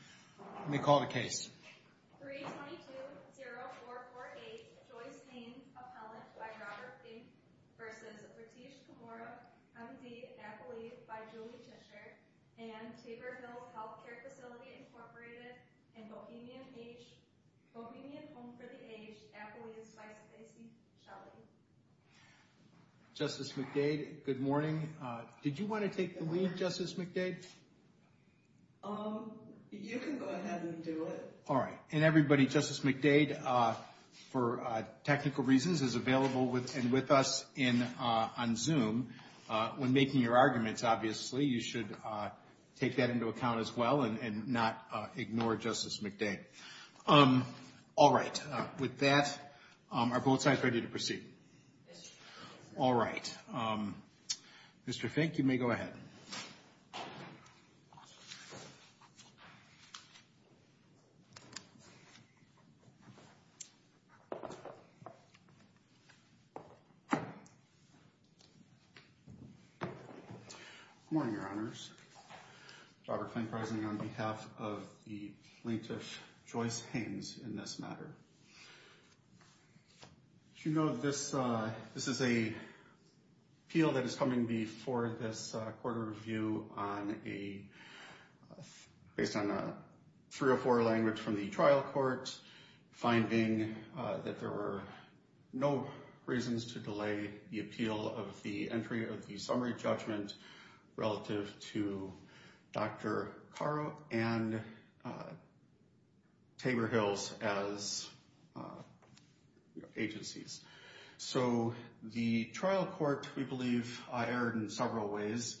322-0448 Joyce Haines, appellant by Robert Fink v. Ritesh Kumara, M.D., affiliate by Julie Tischer and Tabor Hills Healthcare Facility, Inc. and Bohemian Home for the Aged, affiliate by Stacy Shelley. Justice McDade, good morning. Did you want to take the lead, Justice McDade? You can go ahead and do it. All right. And everybody, Justice McDade, for technical reasons, is available and with us on Zoom. When making your arguments, obviously, you should take that into account as well and not ignore Justice McDade. All right. With that, are both sides ready to proceed? Yes, Your Honor. All right. Mr. Fink, you may go ahead. Good morning, Your Honors. Robert Fink, present on behalf of the plaintiff, Joyce Haines, in this matter. As you know, this is an appeal that is coming before this court of review based on a 304 language from the trial court, finding that there were no reasons to delay the appeal of the entry of the summary judgment relative to Dr. Carro and Tabor Hills as agencies. So, the trial court, we believe, erred in several ways.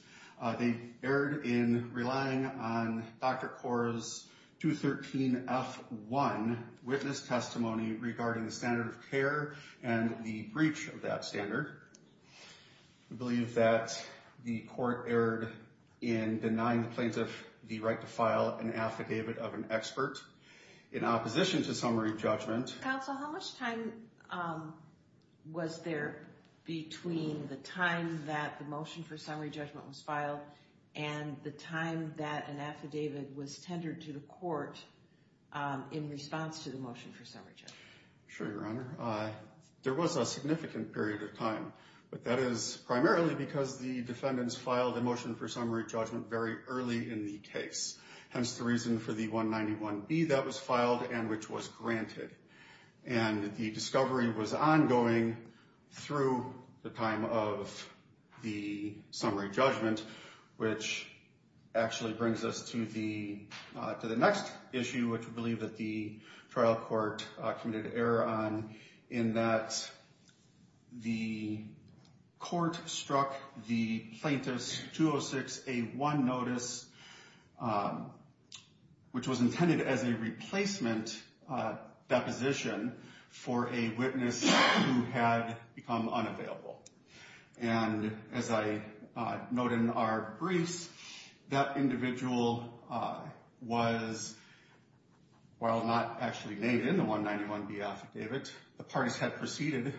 They erred in relying on Dr. Carro's 213F1 witness testimony regarding the standard of procedure. We believe that the court erred in denying the plaintiff the right to file an affidavit of an expert in opposition to summary judgment. Counsel, how much time was there between the time that the motion for summary judgment was filed and the time that an affidavit was tendered to the court in response to the motion for summary judgment? Sure, Your Honor. There was a significant period of time, but that is primarily because the defendants filed the motion for summary judgment very early in the case, hence the reason for the 191B that was filed and which was granted. And the discovery was ongoing through the time of the summary judgment, which actually brings us to the next issue, which we believe that the trial court committed error on, in that the court struck the plaintiff's 206A1 notice, which was intended as a replacement deposition for a witness who had become unavailable. And as I note in our briefs, that individual was, while not actually named in the 191B affidavit, the parties had proceeded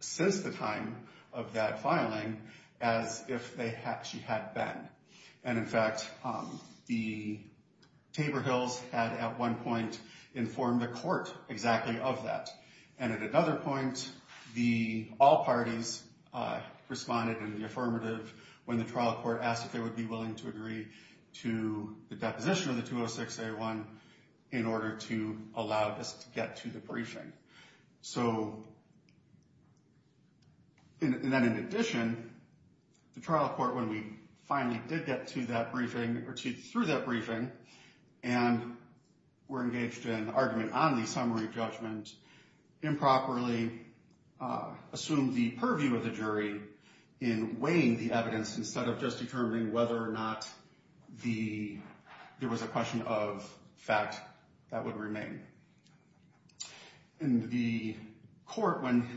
since the time of that filing as if she had been. And in fact, the Tabor Hills had at one point informed the court exactly of that. And at another point, all parties responded in the affirmative when the trial court asked if they would be willing to agree to the deposition of the 206A1 in order to allow this to get to the briefing. So, and then in addition, the trial court, when we finally did get to that briefing, or through that briefing, and were engaged in argument on the summary judgment, improperly assumed the purview of the jury in weighing the evidence instead of just determining whether or not there was a question of fact that would remain. In the court, when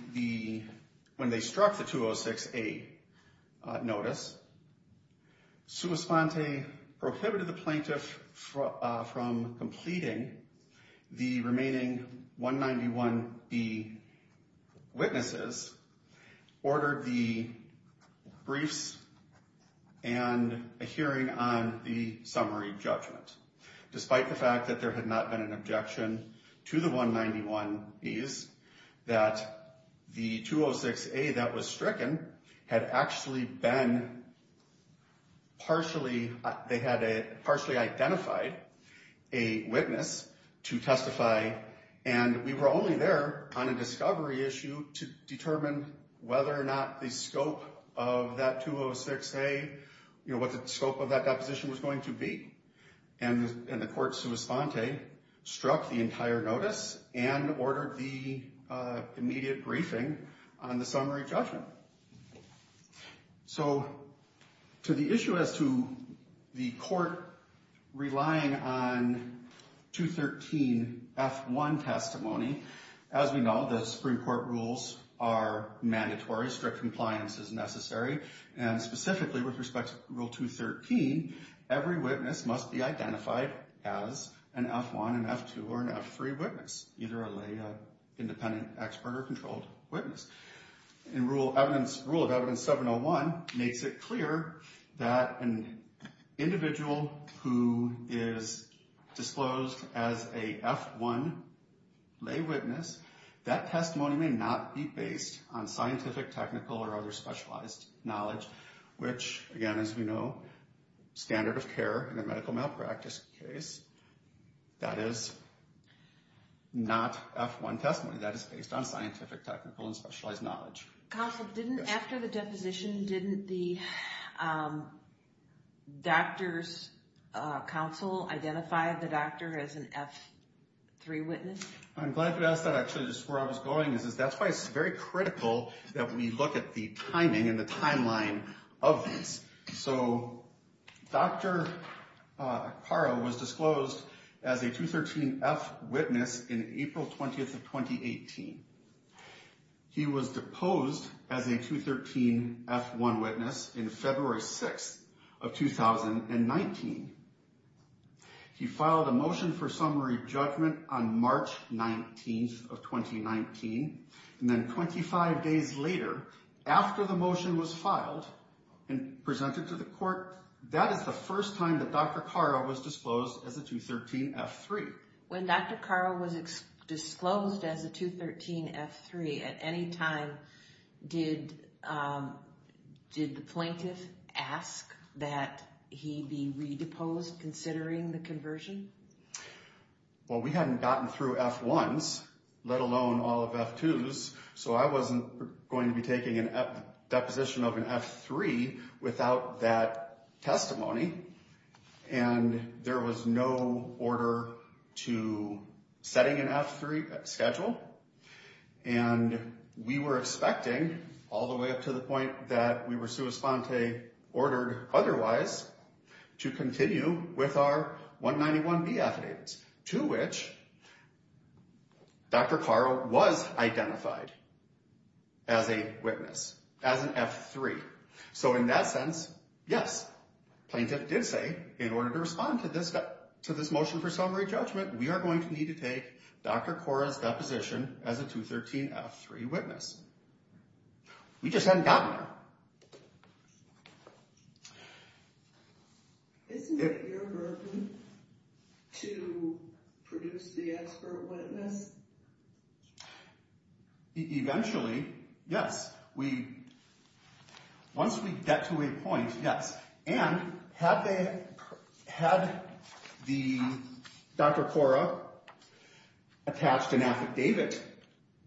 they struck the 206A notice, Sua Sponte prohibited the plaintiff from completing the remaining 191B witnesses, ordered the briefs, and a hearing on the summary judgment. Despite the fact that there had not been an objection to the 191Bs, that the 206A that was stricken had actually been partially, they had partially identified a witness to testify. And we were only there on a discovery issue to determine whether or not the scope of that 206A, what the scope of that deposition was going to be. And the court, Sua Sponte, struck the entire notice and ordered the immediate briefing on the summary judgment. So, to the issue as to the court relying on 213F1 testimony, as we know, the Supreme Court rules are mandatory, strict compliance is necessary, and specifically with respect to Rule 213, every witness must be identified as an F1, an F2, or an F3 witness, either a lay independent expert or controlled witness. Rule of Evidence 701 makes it clear that an individual who is disclosed as a F1 lay witness, that testimony may not be based on scientific, technical, or other specialized knowledge, which, again, as we know, standard of care in a medical malpractice case, that is not F1 testimony. That is based on scientific, technical, and specialized knowledge. Counsel, didn't, after the deposition, didn't the doctor's counsel identify the doctor as an F3 witness? I'm glad you asked that, actually, just where I was going. That's why it's very critical that we look at the timing and the timeline of this. So, Dr. Acquara was disclosed as a 213F witness in April 20th of 2018. He was deposed as a 213F1 witness in February 6th of 2019. He filed a motion for summary judgment on March 19th of 2019. And then 25 days later, after the motion was filed and presented to the court, that is the first time that Dr. Acquara was disclosed as a 213F3. When Dr. Acquara was disclosed as a 213F3, at any time, did the plaintiff ask that he be redeposed considering the conversion? Well, we hadn't gotten through F1s, let alone all of F2s, so I wasn't going to be taking a deposition of an F3 without that testimony. And there was no order to setting an F3 schedule. And we were expecting, all the way up to the point that we were sui sponte ordered otherwise, to continue with our 191B affidavits, to which Dr. Acquara was identified as a witness, as an F3. So in that sense, yes, the plaintiff did say, in order to respond to this motion for summary judgment, we are going to need to take Dr. Acquara's deposition as a 213F3 witness. We just hadn't gotten there. Isn't it your burden to produce the expert witness? Eventually, yes. Once we get to a point, yes. And had Dr. Acquara attached an affidavit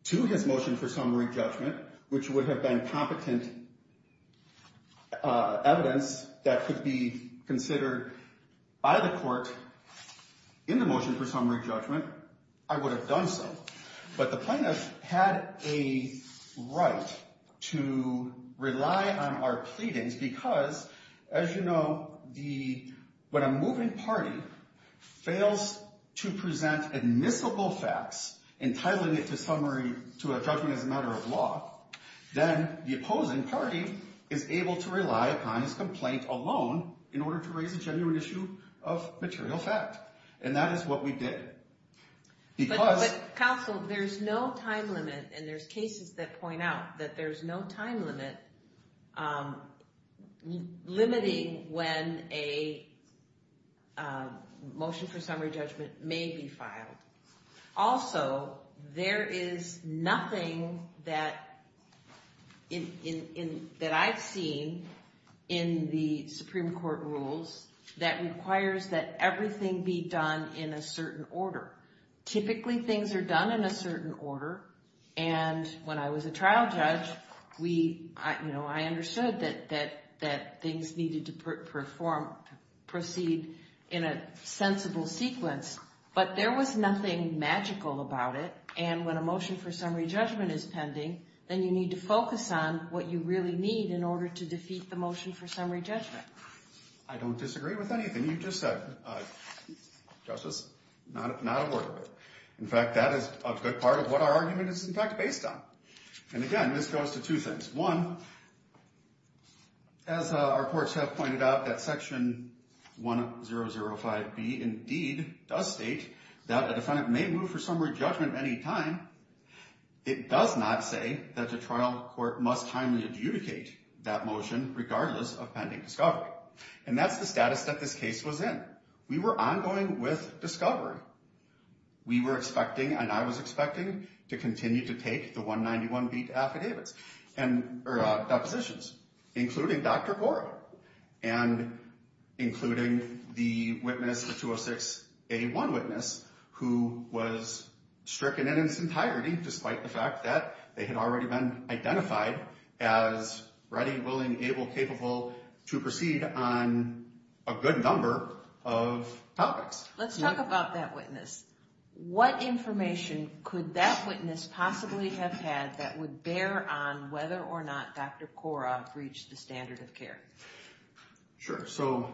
to his motion for summary judgment, which would have been competent evidence that could be considered by the court in the motion for summary judgment, I would have done so. But the plaintiff had a right to rely on our pleadings because, as you know, when a moving party fails to present admissible facts entitling it to a judgment as a matter of law, then the opposing party is able to rely upon his complaint alone in order to raise a genuine issue of material fact. And that is what we did. But, counsel, there's no time limit, and there's cases that point out that there's no time limit limiting when a motion for summary judgment may be filed. Also, there is nothing that I've seen in the Supreme Court rules that requires that everything be done in a certain order. Typically, things are done in a certain order, and when I was a trial judge, I understood that things needed to proceed in a sensible sequence. But there was nothing magical about it, and when a motion for summary judgment is pending, then you need to focus on what you really need in order to defeat the motion for summary judgment. I don't disagree with anything you just said, Justice, not a word of it. In fact, that is a good part of what our argument is, in fact, based on. And again, this goes to two things. One, as our courts have pointed out, that Section 1005B indeed does state that a defendant may move for summary judgment at any time. It does not say that the trial court must timely adjudicate that motion, regardless of pending discovery. And that's the status that this case was in. We were ongoing with discovery. We were expecting, and I was expecting, to continue to take the 191B to affidavits, or depositions, including Dr. Goro, and including the witness, the 206A1 witness, who was stricken in its entirety, despite the fact that they had already been identified as ready, willing, able, capable to proceed on a good number of topics. Let's talk about that witness. What information could that witness possibly have had that would bear on whether or not Dr. Korob reached the standard of care? Sure. So,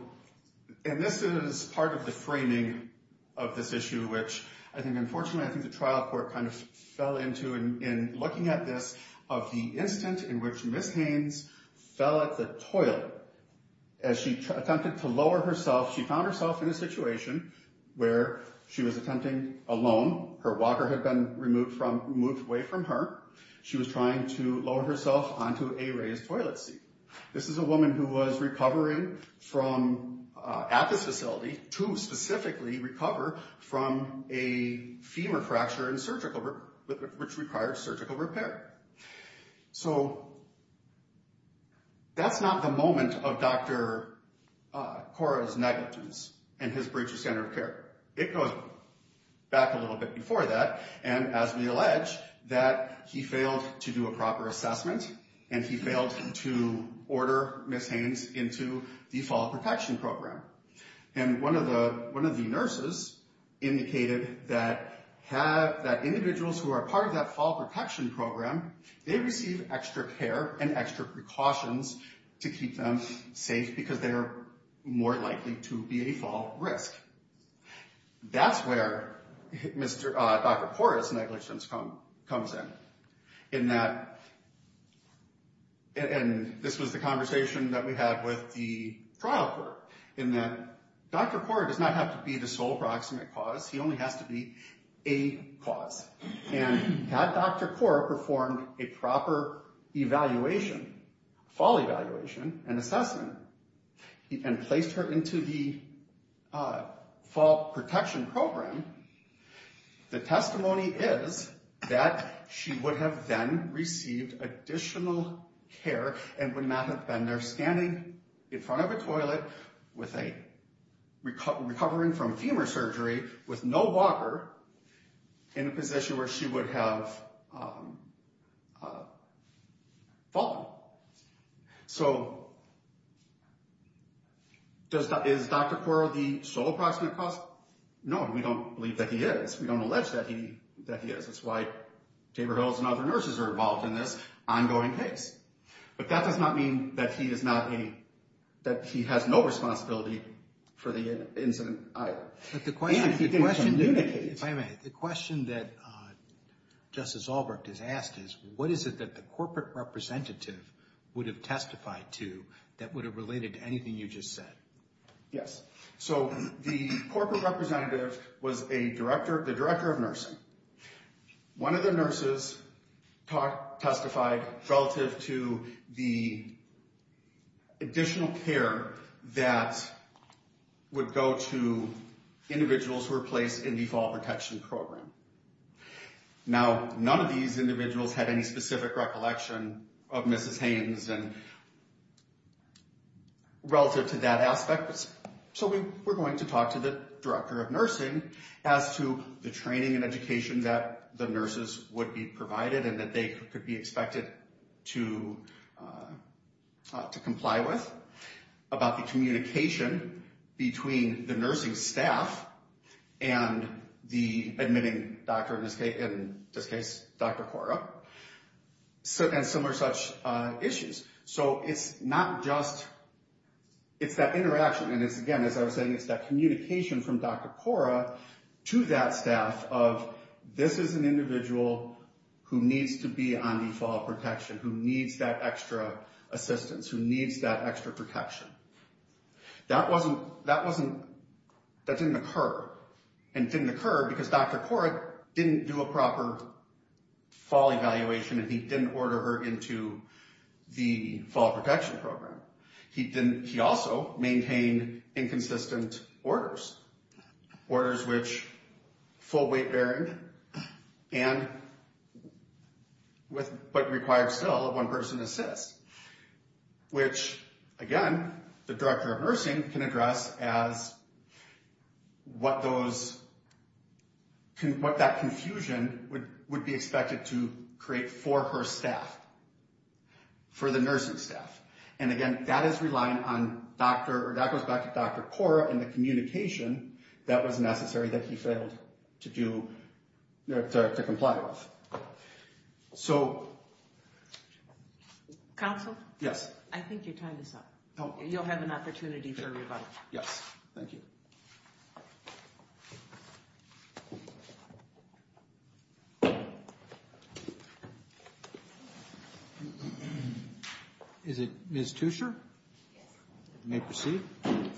and this is part of the framing of this issue, which I think, unfortunately, I think the trial court kind of fell into, in looking at this, of the instant in which Ms. Haynes fell at the toilet. As she attempted to lower herself, she found herself in a situation where she was attempting alone. Her walker had been removed from, moved away from her. She was trying to lower herself onto a raised toilet seat. This is a woman who was recovering from, at this facility, to specifically recover from a femur fracture in surgical, which required surgical repair. So, that's not the moment of Dr. Korob's negligence in his breach of standard of care. It goes back a little bit before that, and as we allege, that he failed to do a proper assessment, and he failed to order Ms. Haynes into the fall protection program. And one of the nurses indicated that individuals who are part of that fall protection program, they receive extra care and extra precautions to keep them safe because they are more likely to be a fall risk. That's where Dr. Korob's negligence comes in, in that, and this was the conversation that we had with the trial court, in that Dr. Korob does not have to be the sole proximate cause, he only has to be a cause. And had Dr. Korob performed a proper evaluation, fall evaluation and assessment, and placed her into the fall protection program, the testimony is that she would have then received additional care and would not have been there standing in front of a toilet, recovering from femur surgery with no walker, in a position where she would have fallen. So, is Dr. Korob the sole proximate cause? No, we don't believe that he is. We don't allege that he is. That's why Tabor Hills and other nurses are involved in this ongoing case. But that does not mean that he has no responsibility for the incident either. If I may, the question that Justice Albrecht has asked is, what is it that the corporate representative would have testified to that would have related to anything you just said? Yes. So, the corporate representative was the director of nursing. One of the nurses testified relative to the additional care that would go to individuals who were placed in the fall protection program. Now, none of these individuals had any specific recollection of Mrs. Haynes relative to that aspect. So, we're going to talk to the director of nursing as to the training and education that the nurses would be provided and that they could be expected to comply with, about the communication between the nursing staff and the admitting doctor, in this case, Dr. Korob, and similar such issues. So, it's not just, it's that interaction, and it's again, as I was saying, it's that communication from Dr. Korob to that staff of, this is an individual who needs to be on the fall protection, who needs that extra assistance, who needs that extra protection. That didn't occur, and it didn't occur because Dr. Korob didn't do a proper fall evaluation and he didn't order her into the fall protection program. He didn't, he also maintained inconsistent orders. Orders which, full weight bearing, and, but required still one person assist. Which, again, the director of nursing can address as what those, what that confusion would be expected to create for her staff, for the nursing staff. And again, that is relying on Dr., that goes back to Dr. Korob and the communication that was necessary that he failed to do, to comply with. So. Counsel? Yes. I think your time is up. Oh. You'll have an opportunity for rebuttal. Yes. Thank you. Is it Ms. Tuescher? Yes. You may proceed. Thank you.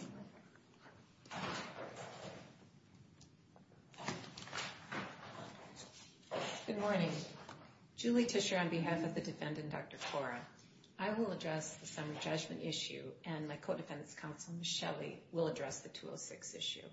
Good morning. Julie Tuescher on behalf of the defendant, Dr. Korob. I will address the summary judgment issue, and my co-defense counsel, Michele, will address the 206 issue.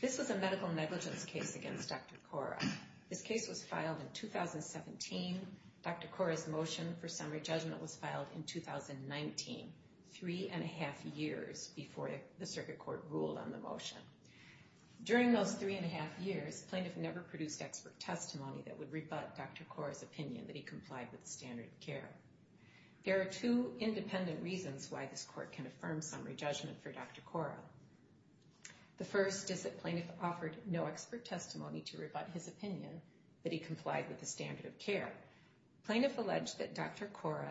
This was a medical negligence case against Dr. Korob. This case was filed in 2017. Dr. Korob's motion for summary judgment was filed in 2019, three and a half years before the circuit court ruled on the motion. During those three and a half years, plaintiff never produced expert testimony that would rebut Dr. Korob's opinion that he complied with the standard of care. There are two independent reasons why this court can affirm summary judgment for Dr. Korob. The first is that plaintiff offered no expert testimony to rebut his opinion that he complied with the standard of care. Plaintiff alleged that Dr. Korob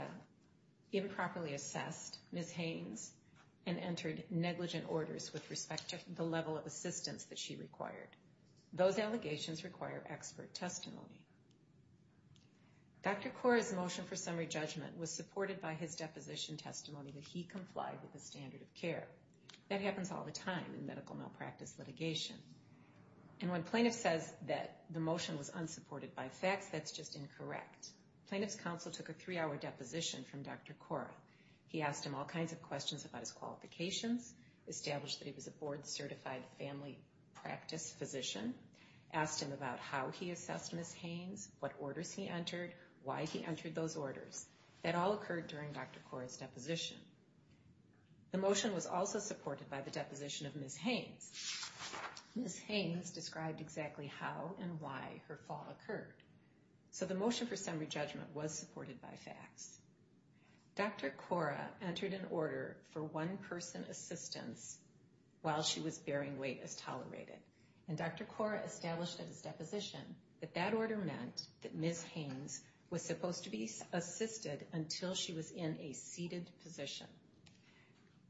improperly assessed Ms. Haynes and entered negligent orders with respect to the level of assistance that she required. Those allegations require expert testimony. Dr. Korob's motion for summary judgment was supported by his deposition testimony that he complied with the standard of care. That happens all the time in medical malpractice litigation. And when plaintiff says that the motion was unsupported by facts, that's just incorrect. Plaintiff's counsel took a three-hour deposition from Dr. Korob. He asked him all kinds of questions about his qualifications, established that he was a board-certified family practice physician, asked him about how he assessed Ms. Haynes, what orders he entered, why he entered those orders. That all occurred during Dr. Korob's deposition. The motion was also supported by the deposition of Ms. Haynes. Ms. Haynes described exactly how and why her fall occurred. So the motion for summary judgment was supported by facts. Dr. Korob entered an order for one-person assistance while she was bearing weight as tolerated. And Dr. Korob established in his deposition that that order meant that Ms. Haynes was supposed to be assisted until she was in a seated position.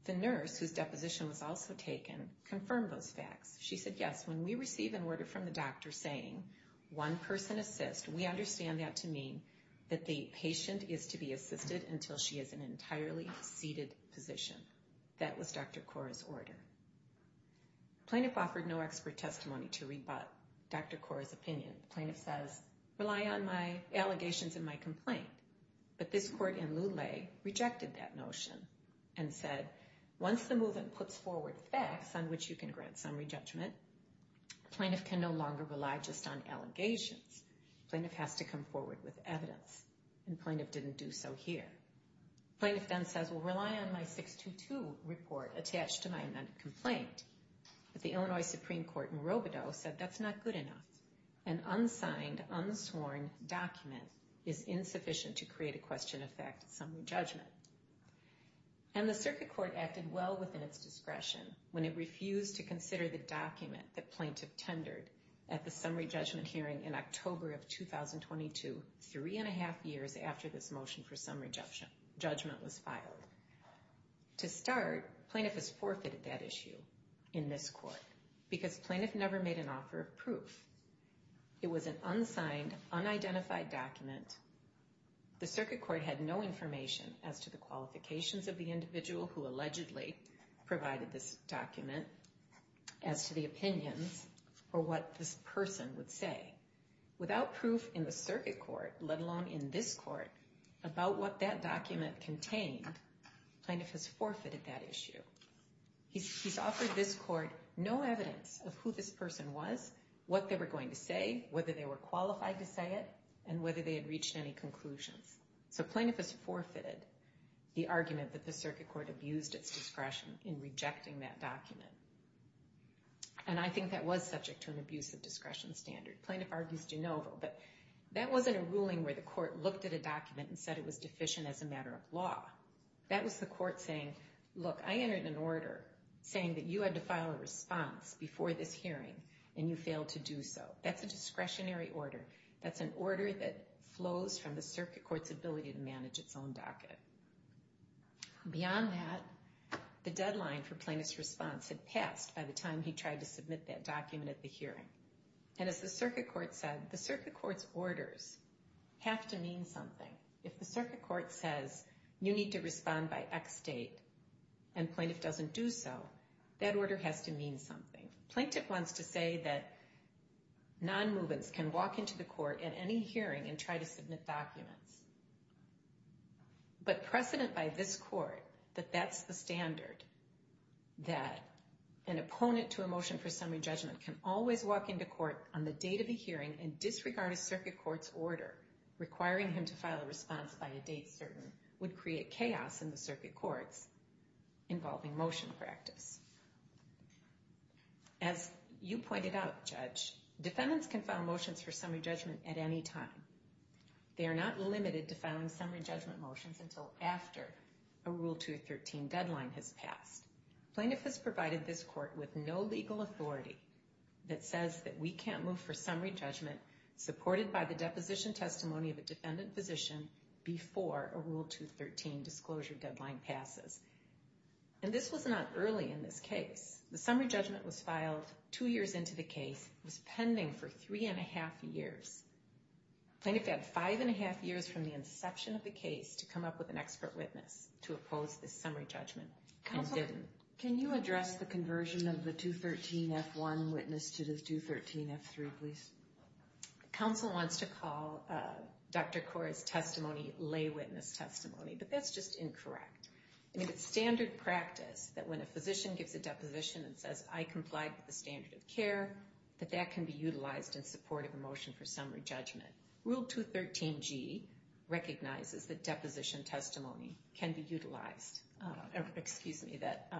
The nurse, whose deposition was also taken, confirmed those facts. She said, yes, when we receive an order from the doctor saying one-person assist, we understand that to mean that the patient is to be assisted until she is in an entirely seated position. That was Dr. Korob's order. The plaintiff offered no expert testimony to rebut Dr. Korob's opinion. The plaintiff says, rely on my allegations in my complaint. But this court in Lulay rejected that notion and said, once the movement puts forward facts on which you can grant summary judgment, the plaintiff can no longer rely just on allegations. The plaintiff has to come forward with evidence, and the plaintiff didn't do so here. The plaintiff then says, well, rely on my 622 report attached to my complaint. But the Illinois Supreme Court in Robodeau said that's not good enough. An unsigned, unsworn document is insufficient to create a question of fact summary judgment. And the circuit court acted well within its discretion when it refused to consider the document that plaintiff tendered at the summary judgment hearing in October of 2022, three and a half years after this motion for summary judgment was filed. To start, plaintiff has forfeited that issue in this court because plaintiff never made an offer of proof. It was an unsigned, unidentified document. The circuit court had no information as to the qualifications of the individual who allegedly provided this document, as to the opinions, or what this person would say. Without proof in the circuit court, let alone in this court, about what that document contained, plaintiff has forfeited that issue. He's offered this court no evidence of who this person was, what they were going to say, whether they were qualified to say it, and whether they had reached any conclusions. So plaintiff has forfeited the argument that the circuit court abused its discretion in rejecting that document. And I think that was subject to an abuse of discretion standard. Plaintiff argues de novo, but that wasn't a ruling where the court looked at a document and said it was deficient as a matter of law. That was the court saying, look, I entered an order saying that you had to file a response before this hearing, and you failed to do so. That's a discretionary order. That's an order that flows from the circuit court's ability to manage its own docket. Beyond that, the deadline for plaintiff's response had passed by the time he tried to submit that document at the hearing. And as the circuit court said, the circuit court's orders have to mean something. If the circuit court says you need to respond by X date and plaintiff doesn't do so, that order has to mean something. Plaintiff wants to say that non-movements can walk into the court at any hearing and try to submit documents. But precedent by this court that that's the standard, that an opponent to a motion for summary judgment can always walk into court on the date of the hearing and disregard a circuit court's order, requiring him to file a response by a date certain, would create chaos in the circuit courts involving motion practice. As you pointed out, Judge, defendants can file motions for summary judgment at any time. They are not limited to filing summary judgment motions until after a Rule 213 deadline has passed. Plaintiff has provided this court with no legal authority that says that we can't move for summary judgment supported by the deposition testimony of a defendant position before a Rule 213 disclosure deadline passes. And this was not early in this case. The summary judgment was filed two years into the case. It was pending for three and a half years. Plaintiff had five and a half years from the inception of the case to come up with an expert witness to oppose this summary judgment and didn't. Counsel, can you address the conversion of the 213 F1 witness to the 213 F3, please? Counsel wants to call Dr. Kora's testimony lay witness testimony, but that's just incorrect. I mean, it's standard practice that when a physician gives a deposition and says, I complied with the standard of care, that that can be utilized in support of a motion for summary judgment. Rule 213 G recognizes that deposition testimony can be utilized. Excuse me, that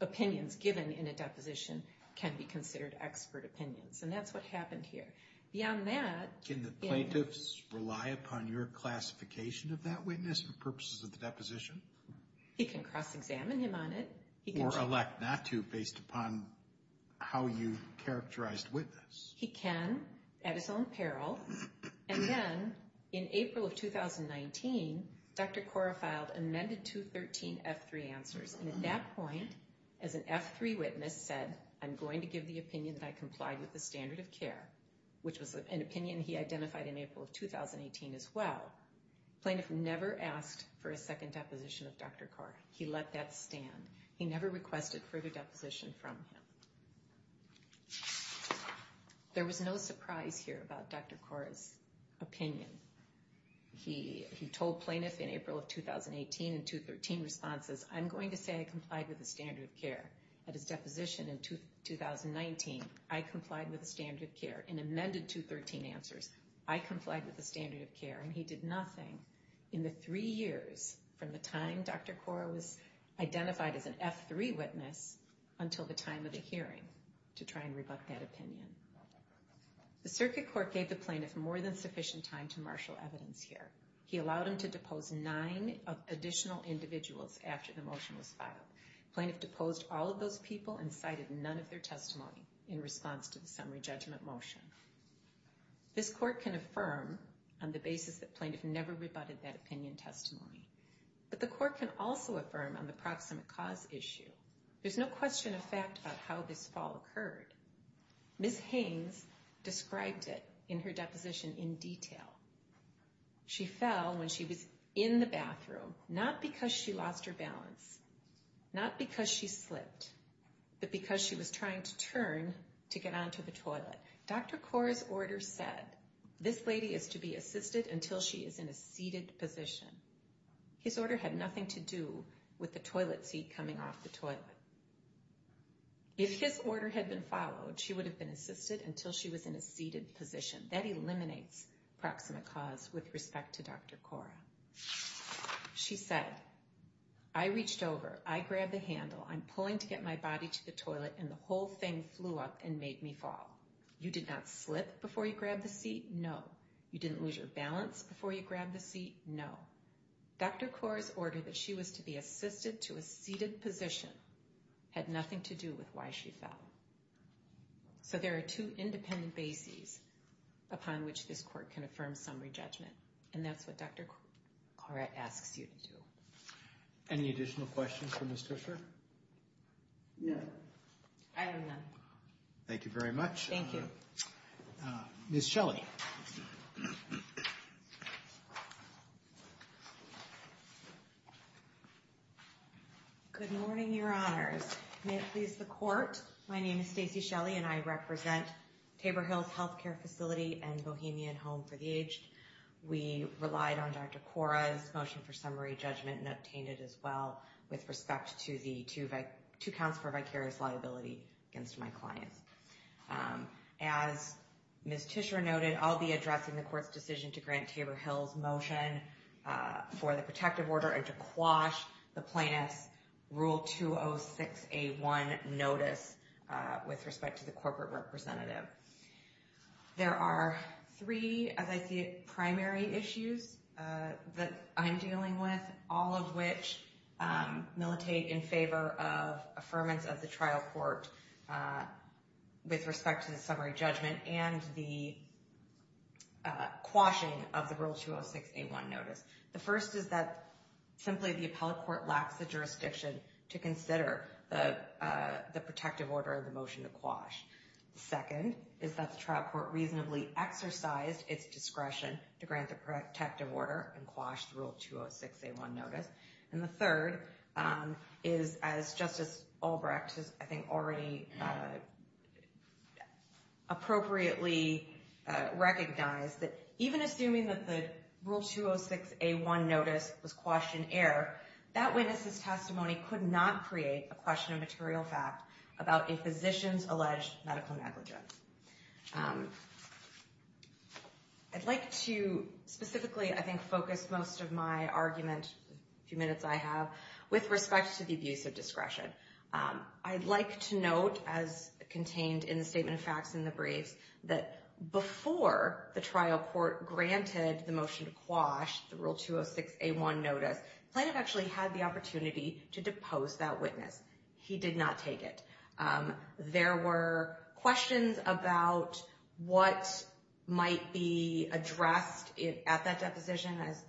opinions given in a deposition can be considered expert opinions. And that's what happened here. Beyond that, can the plaintiffs rely upon your classification of that witness for purposes of the deposition? He can cross-examine him on it. Or elect not to based upon how you characterized witness. He can at his own peril. And then in April of 2019, Dr. Kora filed amended 213 F3 answers. And at that point, as an F3 witness said, I'm going to give the opinion that I complied with the standard of care, which was an opinion he identified in April of 2018 as well. Plaintiff never asked for a second deposition of Dr. Kora. He let that stand. He never requested further deposition from him. There was no surprise here about Dr. Kora's opinion. He told plaintiff in April of 2018 in 213 responses, I'm going to say I complied with the standard of care. At his deposition in 2019, I complied with the standard of care. In amended 213 answers, I complied with the standard of care. And he did nothing in the three years from the time Dr. Kora was identified as an F3 witness until the time of the hearing to try and rebut that opinion. The circuit court gave the plaintiff more than sufficient time to marshal evidence here. He allowed him to depose nine additional individuals after the motion was filed. Plaintiff deposed all of those people and cited none of their testimony in response to the summary judgment motion. This court can affirm on the basis that plaintiff never rebutted that opinion testimony. But the court can also affirm on the proximate cause issue. There's no question of fact about how this fall occurred. Ms. Haynes described it in her deposition in detail. She fell when she was in the bathroom, not because she lost her balance, not because she slipped, but because she was trying to turn to get onto the toilet. Dr. Kora's order said, this lady is to be assisted until she is in a seated position. His order had nothing to do with the toilet seat coming off the toilet. If his order had been followed, she would have been assisted until she was in a seated position. That eliminates proximate cause with respect to Dr. Kora. She said, I reached over, I grabbed the handle, I'm pulling to get my body to the toilet, and the whole thing flew up and made me fall. You did not slip before you grabbed the seat? No. You didn't lose your balance before you grabbed the seat? No. Dr. Kora's order that she was to be assisted to a seated position had nothing to do with why she fell. So there are two independent bases upon which this court can affirm summary judgment. And that's what Dr. Kora asks you to do. Any additional questions for Ms. Tushar? No. I have none. Thank you very much. Thank you. Ms. Shelley. Good morning, your honors. May it please the court, my name is Stacy Shelley and I represent Tabor Hills Health Care Facility and Bohemia at Home for the Aged. We relied on Dr. Kora's motion for summary judgment and obtained it as well with respect to the two counts for vicarious liability against my clients. As Ms. Tushar noted, I'll be addressing the court's decision to grant Tabor Hills motion for the protective order and to quash the plaintiff's Rule 206A1 notice with respect to the corporate representative. There are three, as I see it, primary issues that I'm dealing with, all of which militate in favor of affirmance of the trial court with respect to the summary judgment and the quashing of the Rule 206A1 notice. The first is that simply the appellate court lacks the jurisdiction to consider the protective order and the motion to quash. The second is that the trial court reasonably exercised its discretion to grant the protective order and quash the Rule 206A1 notice. And the third is, as Justice Albrecht has I think already appropriately recognized, that even assuming that the Rule 206A1 notice was quashed in error, that witness's testimony could not create a question of material fact about a physician's alleged medical negligence. I'd like to specifically, I think, focus most of my argument, the few minutes I have, with respect to the abuse of discretion. I'd like to note, as contained in the statement of facts in the briefs, that before the trial court granted the motion to quash the Rule 206A1 notice, the plaintiff actually had the right to pose that witness. He did not take it. There were questions about what might be addressed at that deposition as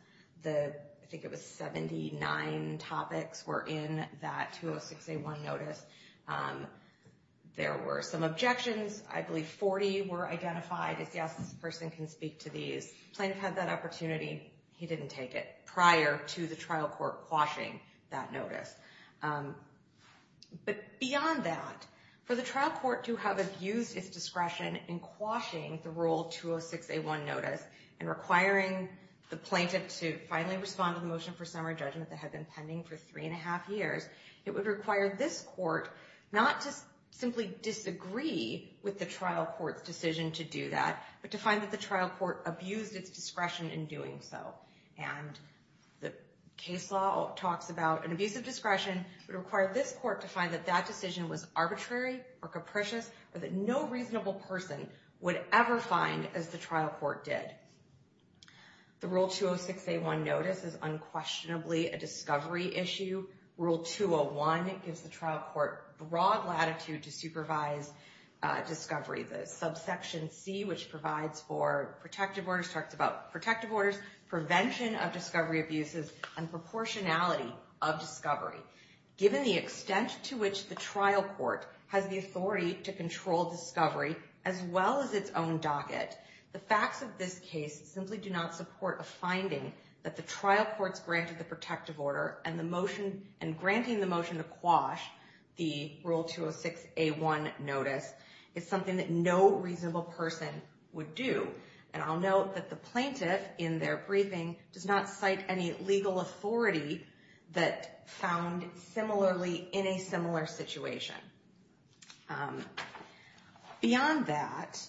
the, I think it was 79 topics were in that 206A1 notice. There were some objections. I believe 40 were identified as, yes, this person can speak to these. Plaintiff had that opportunity. He didn't take it prior to the trial court quashing that notice. But beyond that, for the trial court to have abused its discretion in quashing the Rule 206A1 notice and requiring the plaintiff to finally respond to the motion for summary judgment that had been pending for three and a half years, it would require this court not to simply disagree with the trial court's decision to do that, but to find that the trial court abused its discretion in doing so. And the case law talks about an abuse of discretion would require this court to find that that decision was arbitrary or capricious or that no reasonable person would ever find as the trial court did. The Rule 206A1 notice is unquestionably a discovery issue. Rule 201 gives the trial court broad latitude to supervise discovery. The subsection C, which provides for protective orders, talks about protective orders, prevention of discovery abuses, and proportionality of discovery. Given the extent to which the trial court has the authority to control discovery as well as its own docket, the facts of this case simply do not support a finding that the trial court's granted the protective order and granting the motion to quash the Rule 206A1 notice is something that no reasonable person would do. And I'll note that the plaintiff in their briefing does not cite any legal authority that found similarly in a similar situation. Beyond that,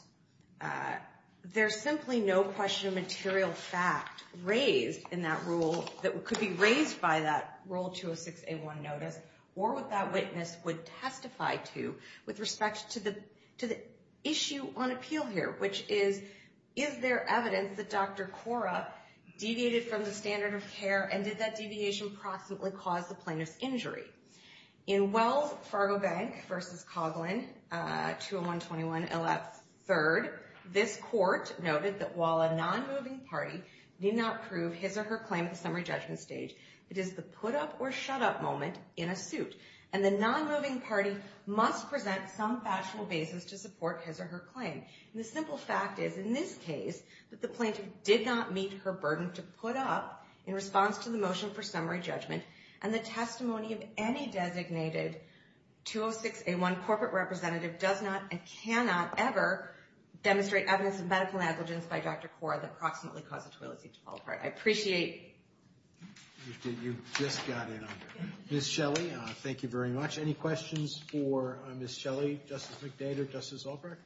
there's simply no question of material fact raised in that rule that could be raised by that Rule 206A1 notice or what that witness would testify to with respect to the issue on appeal here, which is, is there evidence that Dr. Cora deviated from the standard of care and did that deviation possibly cause the plaintiff's injury? In Wells Fargo Bank v. Coghlan, 20121 LF 3rd, this court noted that while a non-moving party need not prove his or her claim at the summary judgment stage, it is the put up or shut up moment in a suit, and the non-moving party must present some factual basis to support his or her claim. And the simple fact is, in this case, that the plaintiff did not meet her burden to put up in response to the motion for summary judgment, and the testimony of any designated 206A1 corporate representative does not and cannot ever demonstrate evidence of medical negligence by Dr. Cora that approximately caused the toilet seat to fall apart. I appreciate... You just got in on it. Ms. Shelley, thank you very much. Any questions for Ms. Shelley, Justice McDade, or Justice Albrecht?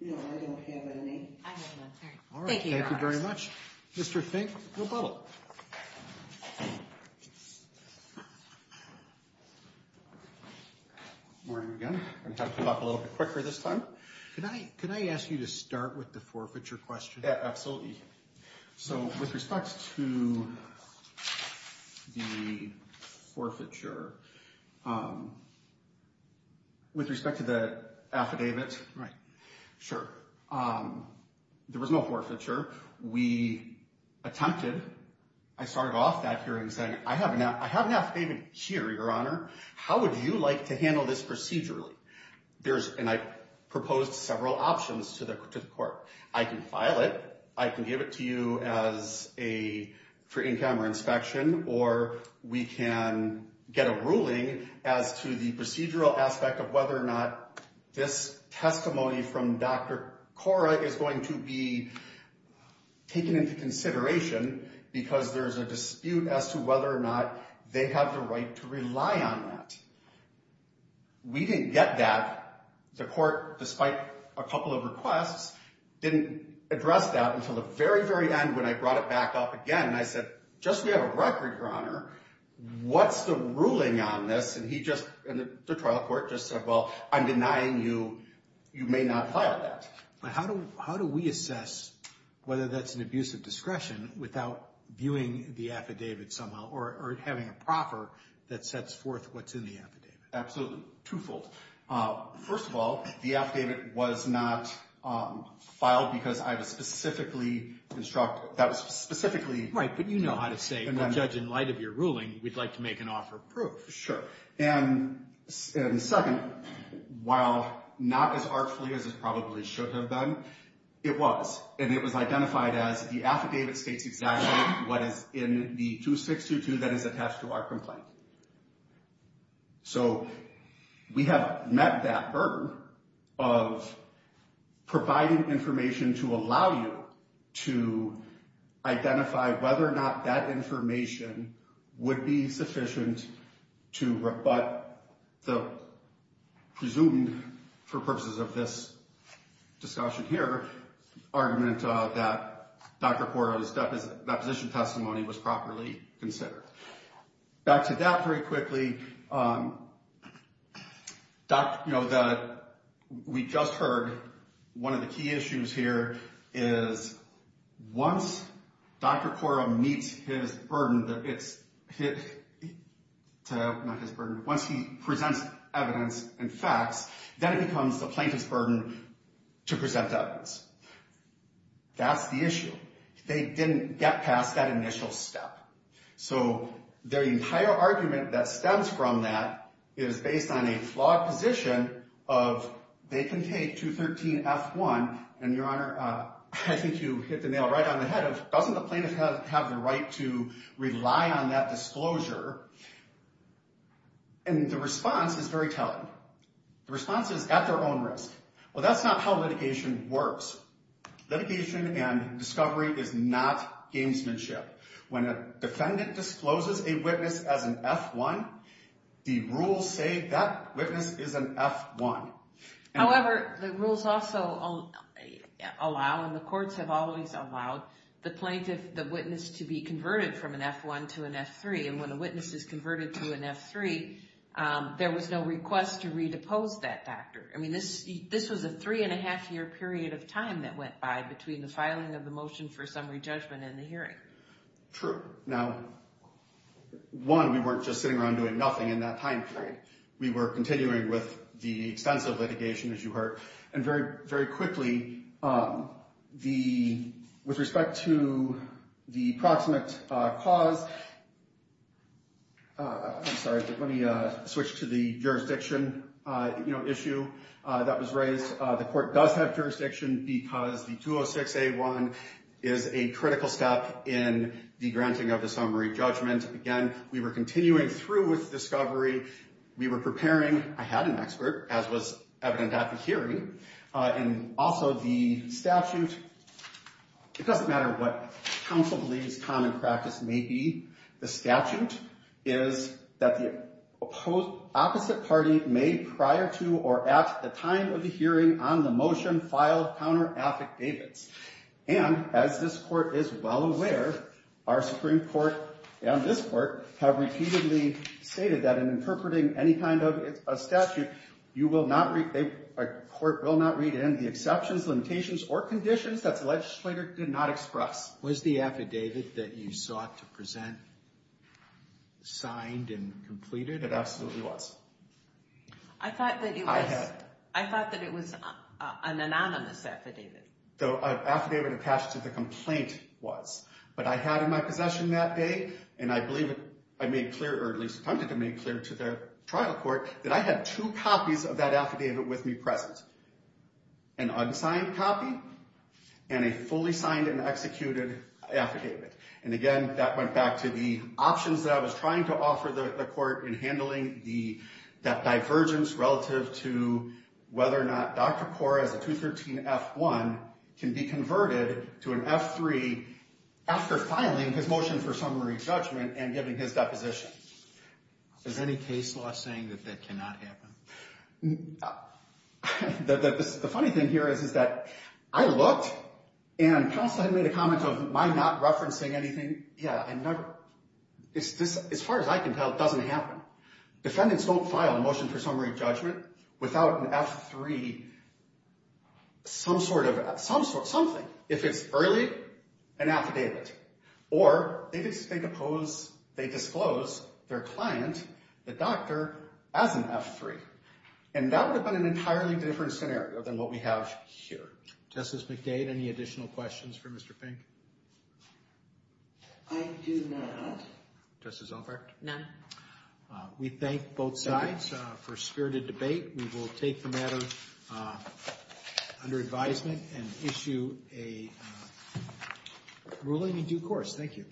No, I don't have any. I have none. All right. Thank you, Your Honor. Thank you very much. Mr. Fink, you're bubbled. Morning again. I'm going to talk to you a little bit quicker this time. Can I ask you to start with the forfeiture question? Absolutely. So, with respect to the forfeiture, with respect to the affidavit... Right. Sure. There was no forfeiture. We attempted... I started off that hearing saying, I have an affidavit here, Your Honor. How would you like to handle this procedurally? And I proposed several options to the court. I can file it. I can give it to you for in-camera inspection. Or we can get a ruling as to the procedural aspect of whether or not this testimony from Dr. Cora is going to be taken into consideration, because there's a dispute as to whether or not they have the right to rely on that. We didn't get that. The court, despite a couple of requests, didn't address that until the very, very end when I brought it back up again. And I said, just so we have a record, Your Honor, what's the ruling on this? And the trial court just said, well, I'm denying you. You may not file that. But how do we assess whether that's an abuse of discretion without viewing the affidavit somehow or having a proffer that sets forth what's in the affidavit? Absolutely. Twofold. First of all, the affidavit was not filed because I was specifically instructed... Right, but you know how to say, well, Judge, in light of your ruling, we'd like to make an offer of proof. Sure. And second, while not as artfully as it probably should have been, it was. And it was identified as the affidavit states exactly what is in the 2622 that is attached to our complaint. So we have met that burden of providing information to allow you to identify whether or not that information would be sufficient to rebut the presumed, for purposes of this discussion here, argument that Dr. Cordova's deposition testimony was properly considered. Back to that very quickly. We just heard one of the key issues here is once Dr. Cordova meets his burden, once he presents evidence and facts, then it becomes the plaintiff's burden to present evidence. That's the issue. They didn't get past that initial step. So their entire argument that stems from that is based on a flawed position of they can take 213F1 and, Your Honor, I think you hit the nail right on the head of doesn't the plaintiff have the right to rely on that disclosure? And the response is very telling. The response is at their own risk. Well, that's not how litigation works. Litigation and discovery is not gamesmanship. When a defendant discloses a witness as an F1, the rules say that witness is an F1. However, the rules also allow and the courts have always allowed the plaintiff, the witness, to be converted from an F1 to an F3. And when a witness is converted to an F3, there was no request to redepose that factor. I mean, this was a three-and-a-half-year period of time that went by between the filing of the motion for summary judgment and the hearing. True. Now, one, we weren't just sitting around doing nothing in that time period. We were continuing with the extensive litigation, as you heard. And very, very quickly, with respect to the proximate cause, I'm sorry, let me switch to the jurisdiction issue that was raised. The court does have jurisdiction because the 206-A1 is a critical step in the granting of the summary judgment. Again, we were continuing through with discovery. We were preparing. I had an expert, as was evident at the hearing. And also, the statute, it doesn't matter what counsel believes common practice may be. The statute is that the opposite party may prior to or at the time of the hearing on the motion file counter-affidavits. And as this court is well aware, our Supreme Court and this court have repeatedly stated that in interpreting any kind of statute, a court will not read in the exceptions, limitations, or conditions that the legislator did not express. Was the affidavit that you sought to present signed and completed? It absolutely was. I thought that it was an anonymous affidavit. The affidavit attached to the complaint was. But I had in my possession that day, and I believe I made clear, or at least attempted to make clear to the trial court, that I had two copies of that affidavit with me present. An unsigned copy and a fully signed and executed affidavit. And again, that went back to the options that I was trying to offer the court in handling that divergence relative to whether or not Dr. Kaur, as a 213-F1, can be converted to an F3 after filing his motion for summary judgment and giving his deposition. Is any case law saying that that cannot happen? The funny thing here is that I looked, and counsel had made a comment of my not referencing anything. Yeah, I never. As far as I can tell, it doesn't happen. Defendants don't file a motion for summary judgment without an F3, some sort of, something. If it's early, an affidavit. Or they disclose their client, the doctor, as an F3. And that would have been an entirely different scenario than what we have here. Justice McDade, any additional questions for Mr. Pink? I do not. Justice Albrecht? None. We thank both sides for a spirited debate. We will take the matter under advisement and issue a ruling in due course. Thank you.